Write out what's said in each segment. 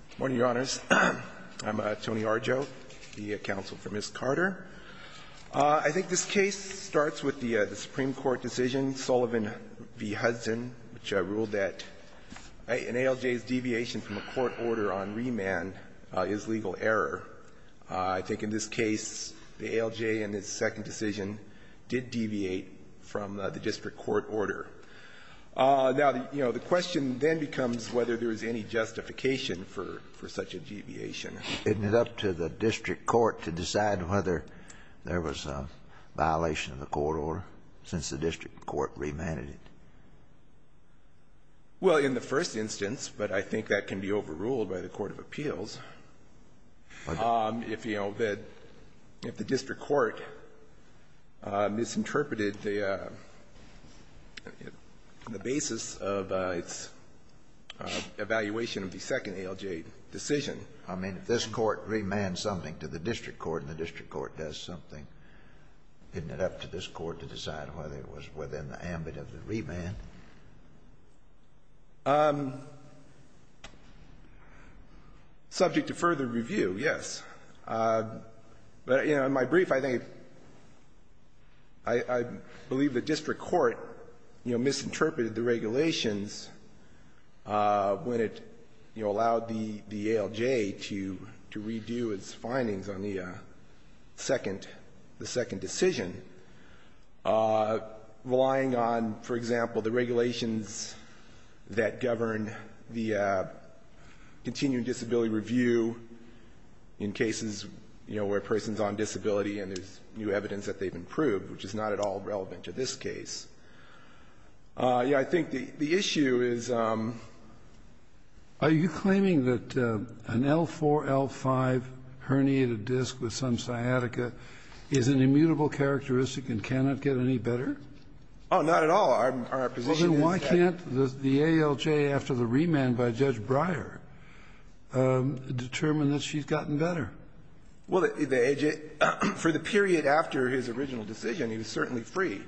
Good morning, Your Honors. I'm Tony Arjo, the counsel for Ms. Carter. I think this case starts with the Supreme Court decision, Sullivan v. Hudson, which I ruled that an ALJ's deviation from a court order on remand is legal error. I think in this case, the ALJ in its second decision did deviate from the district court order. Now, you know, the question then becomes whether there is any justification for such a deviation. It ended up to the district court to decide whether there was a violation of the court order since the district court remanded it. Well, in the first instance, but I think that can be overruled by the court of appeals. If, you know, the district court misinterpreted the basis of its evaluation of the second ALJ decision. I mean, if this court remands something to the district court and the district court does something, didn't it up to this court to decide whether it was within the ambit of the remand? Subject to further review, yes. But, you know, in my brief, I think the district court, you know, misinterpreted the regulations when it, you know, allowed the ALJ to redo its findings on the second ALJ, the second decision, relying on, for example, the regulations that govern the continuing disability review in cases, you know, where a person's on disability and there's new evidence that they've improved, which is not at all relevant to this case. I think the issue is are you claiming that an L4, L5 herniated disc with some sciatica is an immutable characteristic and cannot get any better? Oh, not at all. Our position is that the ALJ after the remand by Judge Breyer determined that she's gotten better. Well, the ALJ, for the period after his original decision, he was certainly free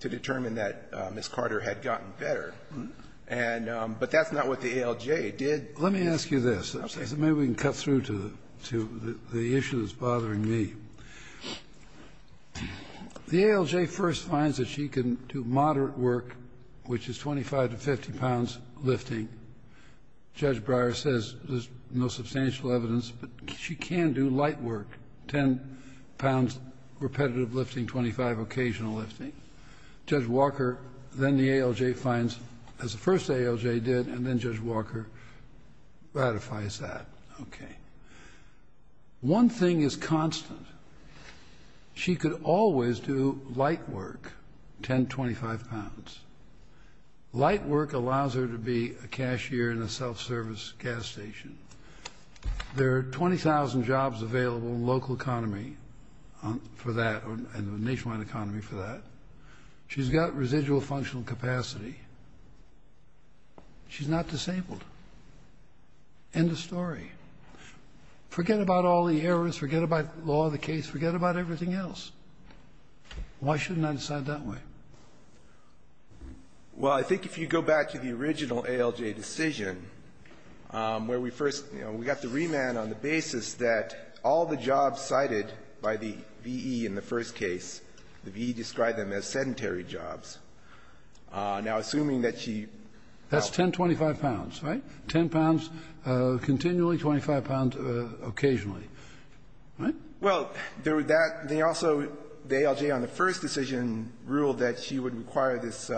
to determine that Ms. Carter had gotten better. And but that's not what the ALJ did. Let me ask you this. Maybe we can cut through to the issue that's bothering me. The ALJ first finds that she can do moderate work, which is 25 to 50 pounds lifting. Judge Breyer says there's no substantial evidence, but she can do light work, 10 pounds repetitive lifting, 25 occasional lifting. Judge Walker, then the ALJ, finds, as the first ALJ did, and then Judge Walker ratifies that. OK. One thing is constant. She could always do light work, 10, 25 pounds. Light work allows her to be a cashier in a self-service gas station. There are 20,000 jobs available in the local economy for that, in the nationwide economy for that. She's got residual functional capacity. She's not disabled. End of story. Forget about all the errors. Forget about the law of the case. Forget about everything else. Why shouldn't I decide that way? Well, I think if you go back to the original ALJ decision, where we first, you know, we got the remand on the basis that all the jobs cited by the V.E. in the first case, the V.E. described them as sedentary jobs. Now, assuming that she... That's 10, 25 pounds, right? 10 pounds continually, 25 pounds occasionally, right? Well, there were that. They also, the ALJ on the first decision, ruled that she would require this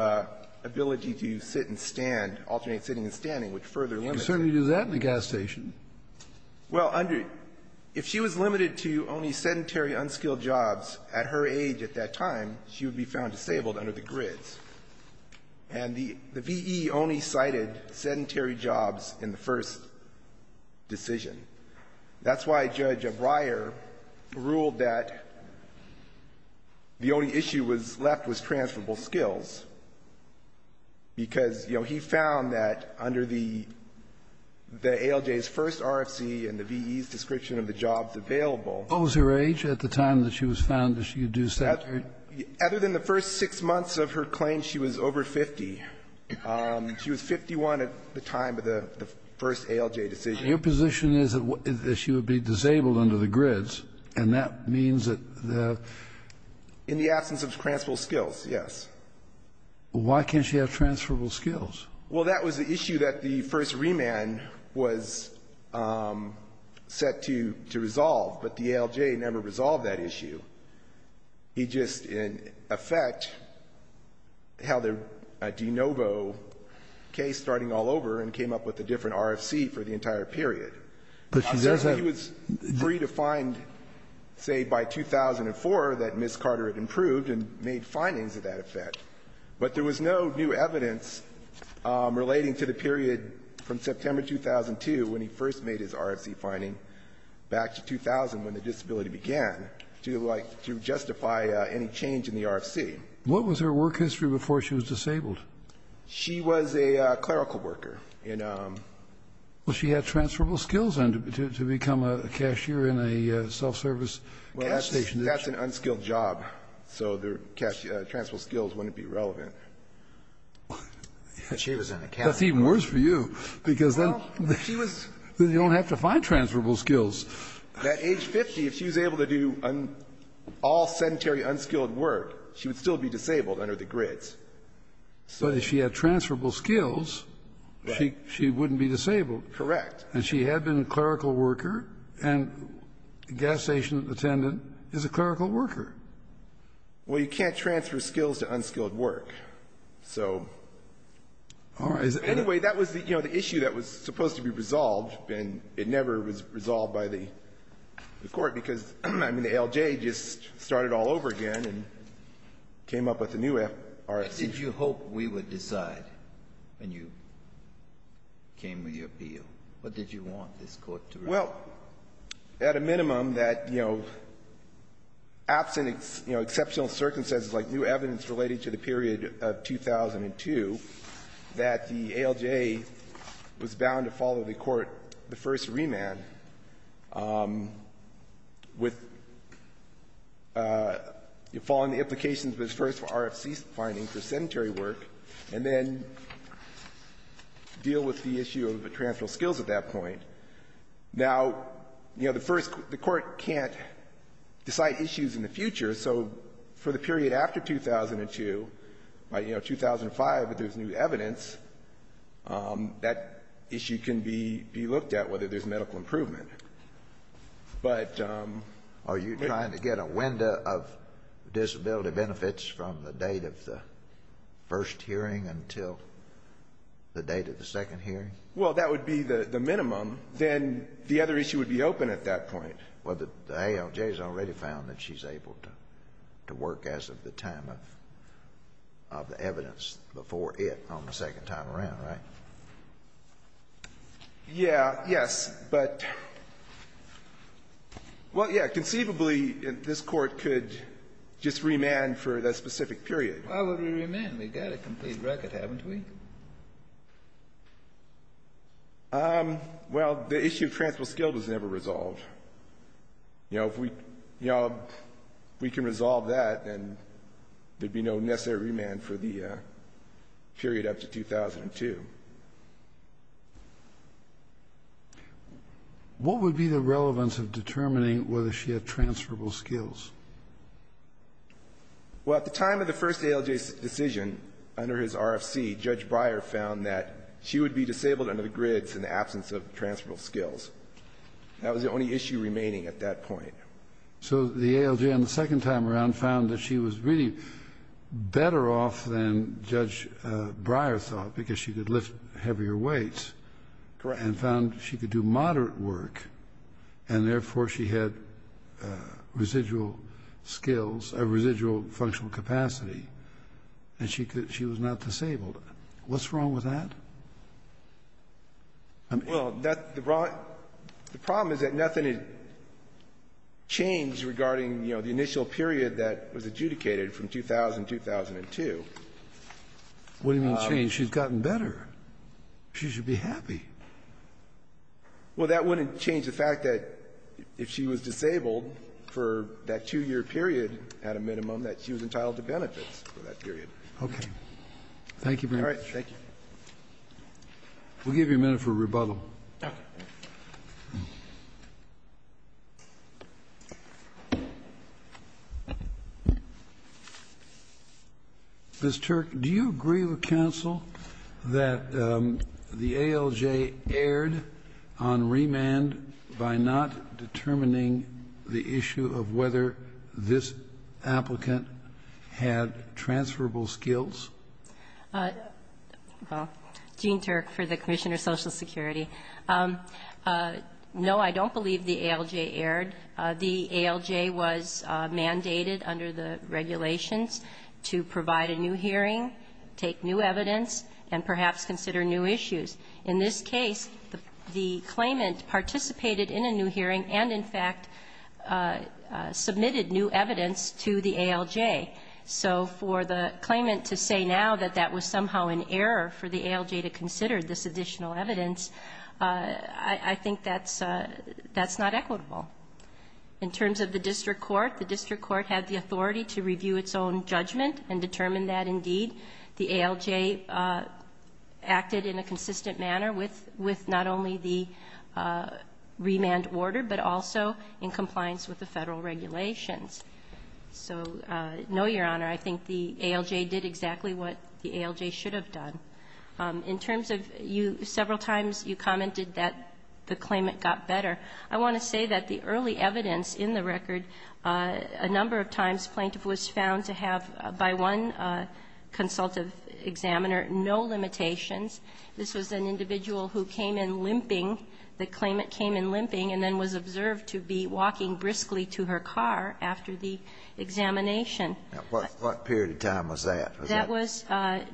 ability to sit and stand, alternate sitting and standing, which further limits... You can certainly do that in a gas station. Well, under, if she was limited to only sedentary, unskilled jobs at her age at that time, she would be found disabled under the grids. And the V.E. only cited sedentary jobs in the first decision. That's why Judge Breyer ruled that the only issue left was transferable skills, because, you know, he found that under the ALJ's first RFC and the V.E.'s description of the jobs available... Other than the first six months of her claim, she was over 50. She was 51 at the time of the first ALJ decision. Your position is that she would be disabled under the grids, and that means that... In the absence of transferable skills, yes. Why can't she have transferable skills? Well, that was the issue that the first remand was set to resolve, but the ALJ never resolved that issue. He just, in effect, held a de novo case starting all over and came up with a different RFC for the entire period. He was free to find, say, by 2004 that Ms. Carter had improved and made findings of that effect. But there was no new evidence relating to the period from September 2002, when he first made his RFC finding, back to 2000, when the disability began. To justify any change in the RFC. What was her work history before she was disabled? She was a clerical worker. Well, she had transferable skills to become a cashier in a self-service gas station. Well, that's an unskilled job, so transferable skills wouldn't be relevant. That's even worse for you, because then you don't have to find transferable skills. At age 50, if she was able to do all sedentary, unskilled work, she would still be disabled under the grids. But if she had transferable skills, she wouldn't be disabled. Correct. And she had been a clerical worker, and a gas station attendant is a clerical worker. Well, you can't transfer skills to unskilled work. It never was resolved by the Court, because, I mean, the ALJ just started all over again and came up with a new RFC. What did you hope we would decide when you came with your appeal? What did you want this Court to resolve? Well, at a minimum, that, you know, absent, you know, exceptional circumstances like new evidence relating to the period of 2002, that the ALJ was bound to follow the Court the first remand with following the implications of its first RFC finding for sedentary work and then deal with the issue of transferable skills at that point. Now, you know, the first, the Court can't decide issues in the future, so for the period after 2002, by, you know, 2005, if there's new evidence, that issue can be looked at, whether there's medical improvement. But... Are you trying to get a window of disability benefits from the date of the first hearing until the date of the second hearing? Well, that would be the minimum. Then the other issue would be open at that point. Well, the ALJ has already found that she's able to work as of the time of the evidence before it on the second time around, right? Yeah. Yes. But, well, yeah. Conceivably, this Court could just remand for that specific period. Why would we remand? We've got a complete record, haven't we? Well, the issue of transferable skills was never resolved. You know, if we, you know, if we can resolve that, then there'd be no necessary remand for the period up to 2002. What would be the relevance of determining whether she had transferable skills? Well, at the time of the first ALJ decision, under his RFC, Judge Breyer found that she would be disabled under the grids in the absence of transferable skills. That was the only issue remaining at that point. So the ALJ on the second time around found that she was really better off than Judge Breyer thought because she could lift heavier weights and found she could do moderate work, and therefore she had residual skills or residual functional capacity and she was not disabled. What's wrong with that? Well, the problem is that nothing had changed regarding, you know, the initial period that was adjudicated from 2000 to 2002. What do you mean changed? She's gotten better. She should be happy. Well, that wouldn't change the fact that if she was disabled for that two-year period at a minimum, that she was entitled to benefits for that period. Okay. Thank you very much. All right. Thank you. We'll give you a minute for rebuttal. Okay. Ms. Turk, do you agree with counsel that the ALJ erred on remand by not determining the issue of whether this applicant had transferable skills? Well, Gene Turk for the Commissioner of Social Security. No, I don't believe the ALJ erred. The ALJ was mandated under the regulations to provide a new hearing, take new evidence, and perhaps consider new issues. In this case, the claimant participated in a new hearing and, in fact, submitted new evidence to the ALJ. So for the claimant to say now that that was somehow an error for the ALJ to consider this additional evidence, I think that's not equitable. In terms of the district court, the district court had the authority to review its own judgment and determine that, indeed, the ALJ acted in a consistent manner with not only the remand order, but also in compliance with the Federal regulations. So, no, Your Honor, I think the ALJ did exactly what the ALJ should have done. In terms of several times you commented that the claimant got better, I want to say that the early evidence in the record, a number of times plaintiff was found to have, by one consultative examiner, no limitations. This was an individual who came in limping. The claimant came in limping and then was observed to be walking briskly to her car after the examination. What period of time was that? That was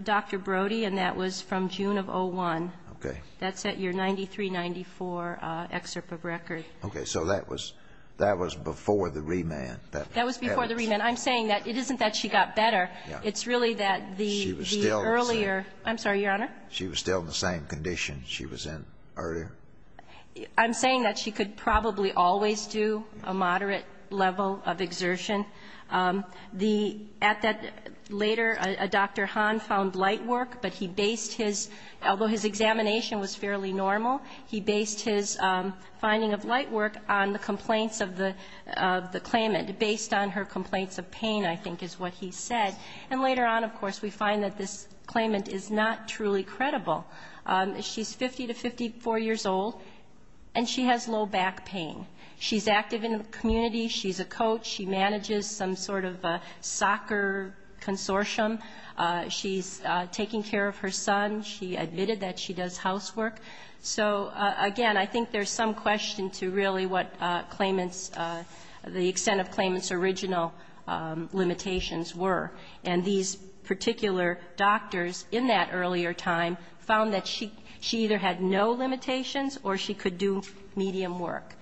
Dr. Brody, and that was from June of 2001. Okay. That's at your 9394 excerpt of record. Okay. So that was before the remand. That was before the remand. I'm saying that it isn't that she got better. It's really that the earlier She was still the same. I'm sorry, Your Honor. She was still in the same condition she was in earlier. I'm saying that she could probably always do a moderate level of exertion. The at that later, Dr. Hahn found light work, but he based his, although his examination was fairly normal, he based his finding of light work on the complaints of the claimant, based on her complaints of pain, I think is what he said. And later on, of course, we find that this claimant is not truly credible. She's 50 to 54 years old, and she has low back pain. She's active in the community. She's a coach. She manages some sort of a soccer consortium. She's taking care of her son. She admitted that she does housework. So, again, I think there's some question to really what claimant's, the extent of claimant's original limitations were. And these particular doctors in that earlier time found that she either had no limitations or she could do medium work.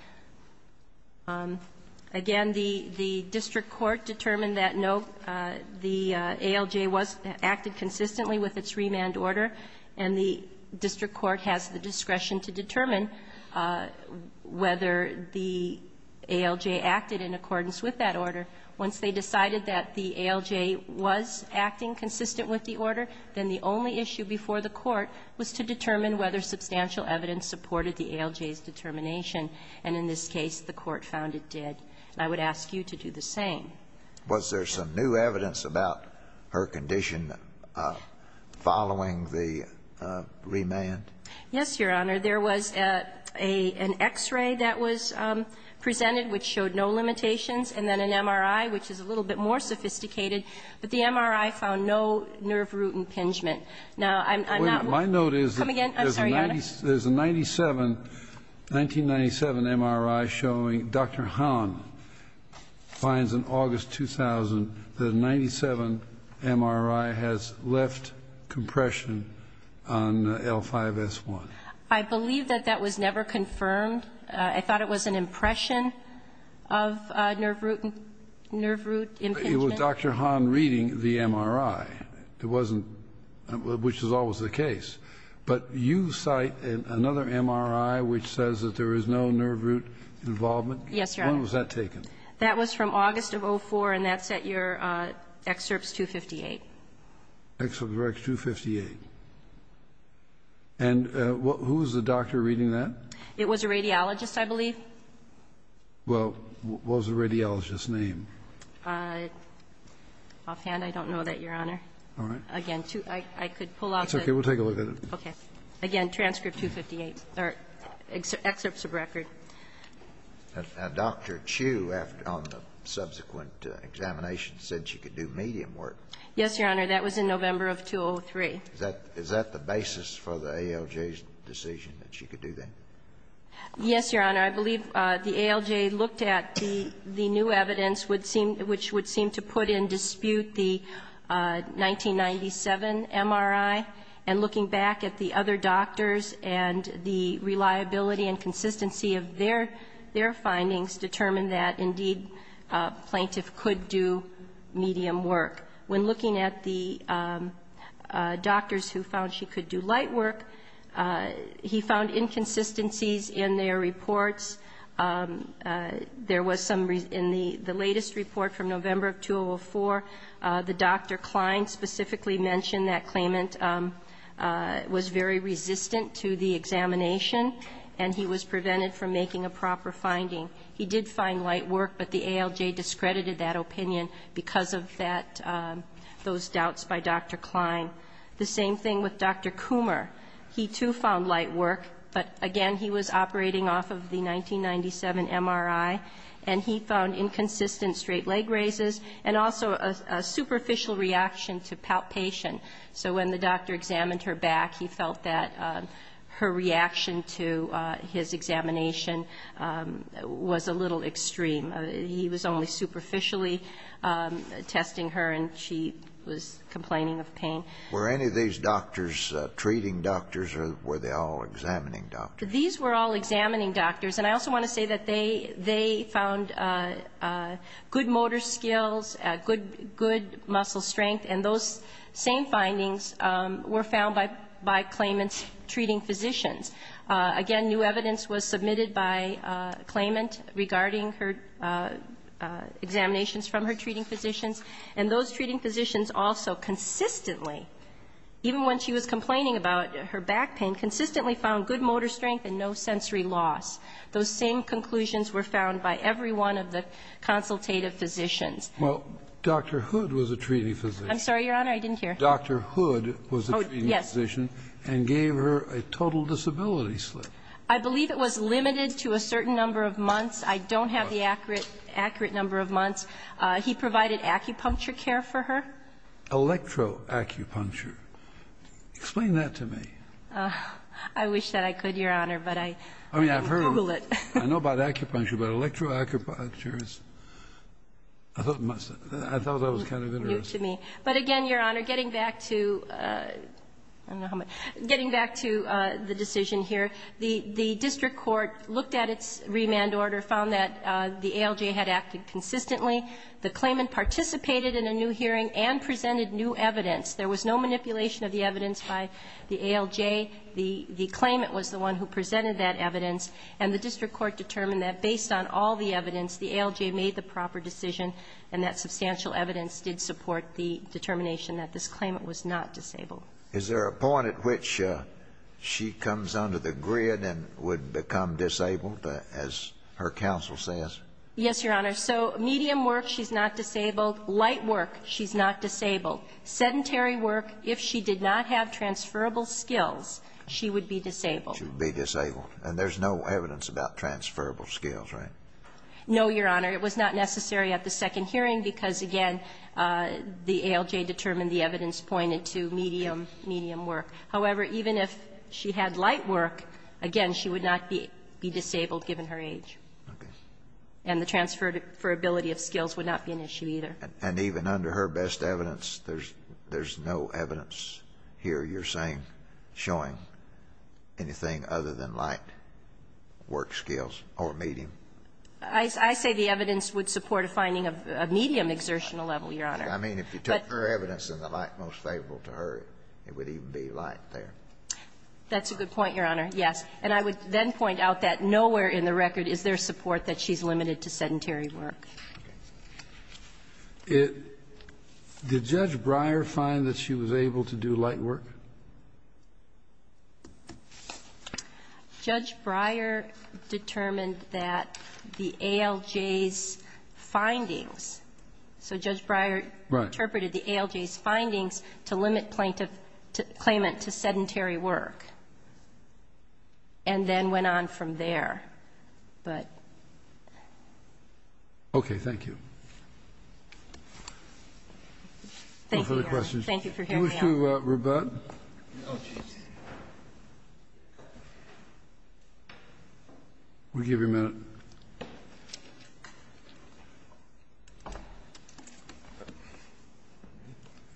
Again, the district court determined that no, the ALJ acted consistently with its remand order, and the district court has the discretion to determine whether the ALJ acted in accordance with that order. Once they decided that the ALJ was acting consistent with the order, then the only issue before the court was to determine whether substantial evidence supported the ALJ's determination. And in this case, the court found it did. And I would ask you to do the same. Was there some new evidence about her condition following the remand? Yes, Your Honor. There was an X-ray that was presented, which showed no limitations, and then an MRI, which is a little bit more sophisticated. But the MRI found no nerve root impingement. Now, I'm not going to come again. I'm sorry, Your Honor. There's a 1997 MRI showing Dr. Hahn finds in August 2000 that a 1997 MRI has left compression on L5S1. I believe that that was never confirmed. I thought it was an impression of nerve root impingement. It was Dr. Hahn reading the MRI. It wasn't, which is always the case. But you cite another MRI which says that there is no nerve root involvement. Yes, Your Honor. When was that taken? That was from August of 2004, and that's at your Excerpts 258. Excerpts 258. And who was the doctor reading that? It was a radiologist, I believe. Well, what was the radiologist's name? Offhand, I don't know that, Your Honor. All right. Again, I could pull out the ---- Okay. We'll take a look at it. Okay. Again, Transcript 258, or Excerpts of Record. Now, Dr. Chu on the subsequent examination said she could do medium work. Yes, Your Honor. That was in November of 2003. Is that the basis for the ALJ's decision that she could do that? Yes, Your Honor. I believe the ALJ looked at the new evidence which would seem to put in dispute the 1997 MRI, and looking back at the other doctors and the reliability and consistency of their findings determined that, indeed, a plaintiff could do medium work. When looking at the doctors who found she could do light work, he found inconsistencies in their reports. There was some ---- in the latest report from November of 2004, the Dr. Klein specifically mentioned that claimant was very resistant to the examination and he was prevented from making a proper finding. He did find light work, but the ALJ discredited that opinion because of that ---- those doubts by Dr. Klein. The same thing with Dr. Coomer. He, too, found light work, but, again, he was operating off of the 1997 MRI and he found inconsistent straight leg raises and also a superficial reaction to palpation. So when the doctor examined her back, he felt that her reaction to his examination was a little extreme. He was only superficially testing her and she was complaining of pain. Were any of these doctors, treating doctors or were they all examining doctors? These were all examining doctors. And I also want to say that they found good motor skills, good muscle strength, and those same findings were found by claimant's treating physicians. Again, new evidence was submitted by claimant regarding her examinations from her treating physicians. And those treating physicians also consistently, even when she was complaining about her back pain, consistently found good motor strength and no sensory loss. Those same conclusions were found by every one of the consultative physicians. Well, Dr. Hood was a treating physician. I'm sorry, Your Honor, I didn't hear. Dr. Hood was a treating physician and gave her a total disability slip. I believe it was limited to a certain number of months. I don't have the accurate number of months. He provided acupuncture care for her. Electroacupuncture. Explain that to me. I wish that I could, Your Honor, but I can't Google it. I mean, I've heard of it. I know about acupuncture, but electroacupuncture, I thought that was kind of interesting. But again, Your Honor, getting back to the decision here, the district court looked at its remand order, found that the ALJ had acted consistently. The claimant participated in a new hearing and presented new evidence. There was no manipulation of the evidence by the ALJ. The claimant was the one who presented that evidence. And the district court determined that based on all the evidence, the ALJ made the proper decision, and that substantial evidence did support the determination that this claimant was not disabled. Is there a point at which she comes under the grid and would become disabled, as her counsel says? Yes, Your Honor. So medium work, she's not disabled. Light work, she's not disabled. Sedentary work, if she did not have transferable skills, she would be disabled. She would be disabled. And there's no evidence about transferable skills, right? No, Your Honor. It was not necessary at the second hearing because, again, the ALJ determined and the evidence pointed to medium, medium work. However, even if she had light work, again, she would not be disabled given her age. Okay. And the transferability of skills would not be an issue either. And even under her best evidence, there's no evidence here, you're saying, showing anything other than light work skills or medium? I say the evidence would support a finding of medium exertional level, Your Honor. I mean, if you took her evidence and the light most favorable to her, it would even be light there. That's a good point, Your Honor, yes. And I would then point out that nowhere in the record is there support that she's limited to sedentary work. Okay. Did Judge Breyer find that she was able to do light work? Judge Breyer determined that the ALJ's findings, so Judge Breyer determined that the ALJ's findings to limit claimant to sedentary work and then went on from there. Okay. Thank you. Thank you, Your Honor. No further questions. Thank you for hearing me out. You wish to rebut? Oh, geez. We'll give you a minute.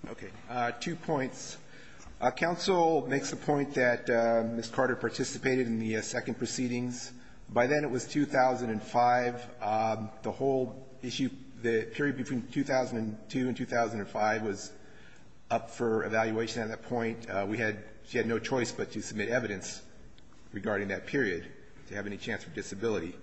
Okay. Two points. Counsel makes the point that Ms. Carter participated in the second proceedings. By then it was 2005. The whole issue, the period between 2002 and 2005 was up for evaluation at that point. We had, she had no choice but to submit evidence regarding that period to have any chance for disability.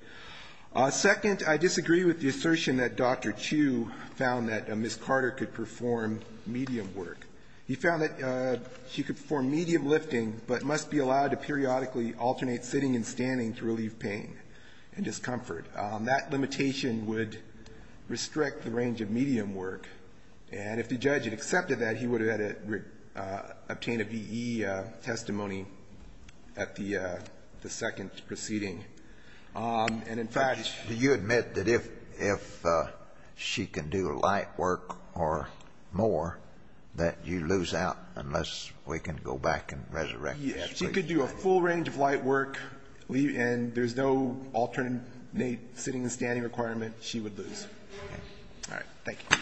Second, I disagree with the assertion that Dr. Chu found that Ms. Carter could perform medium work. He found that she could perform medium lifting but must be allowed to periodically alternate sitting and standing to relieve pain and discomfort. That limitation would restrict the range of medium work. And if the judge had accepted that, he would have had to obtain a V.E. testimony at the second proceeding. And, in fact, do you admit that if she can do light work or more, that you lose out unless we can go back and resurrect Ms. Carter? Yes. She could do a full range of light work and there's no alternate sitting and standing requirement. She would lose. All right. Thank you.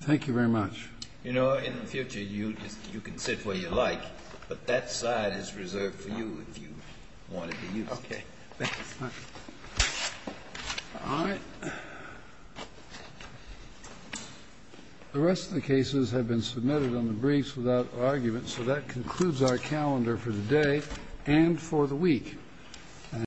Thank you very much. You know, in the future, you can sit where you like. But that side is reserved for you if you want to use it. Okay. Thank you. All right. All right. The rest of the cases have been submitted on the briefs without argument. So that concludes our calendar for the day and for the week.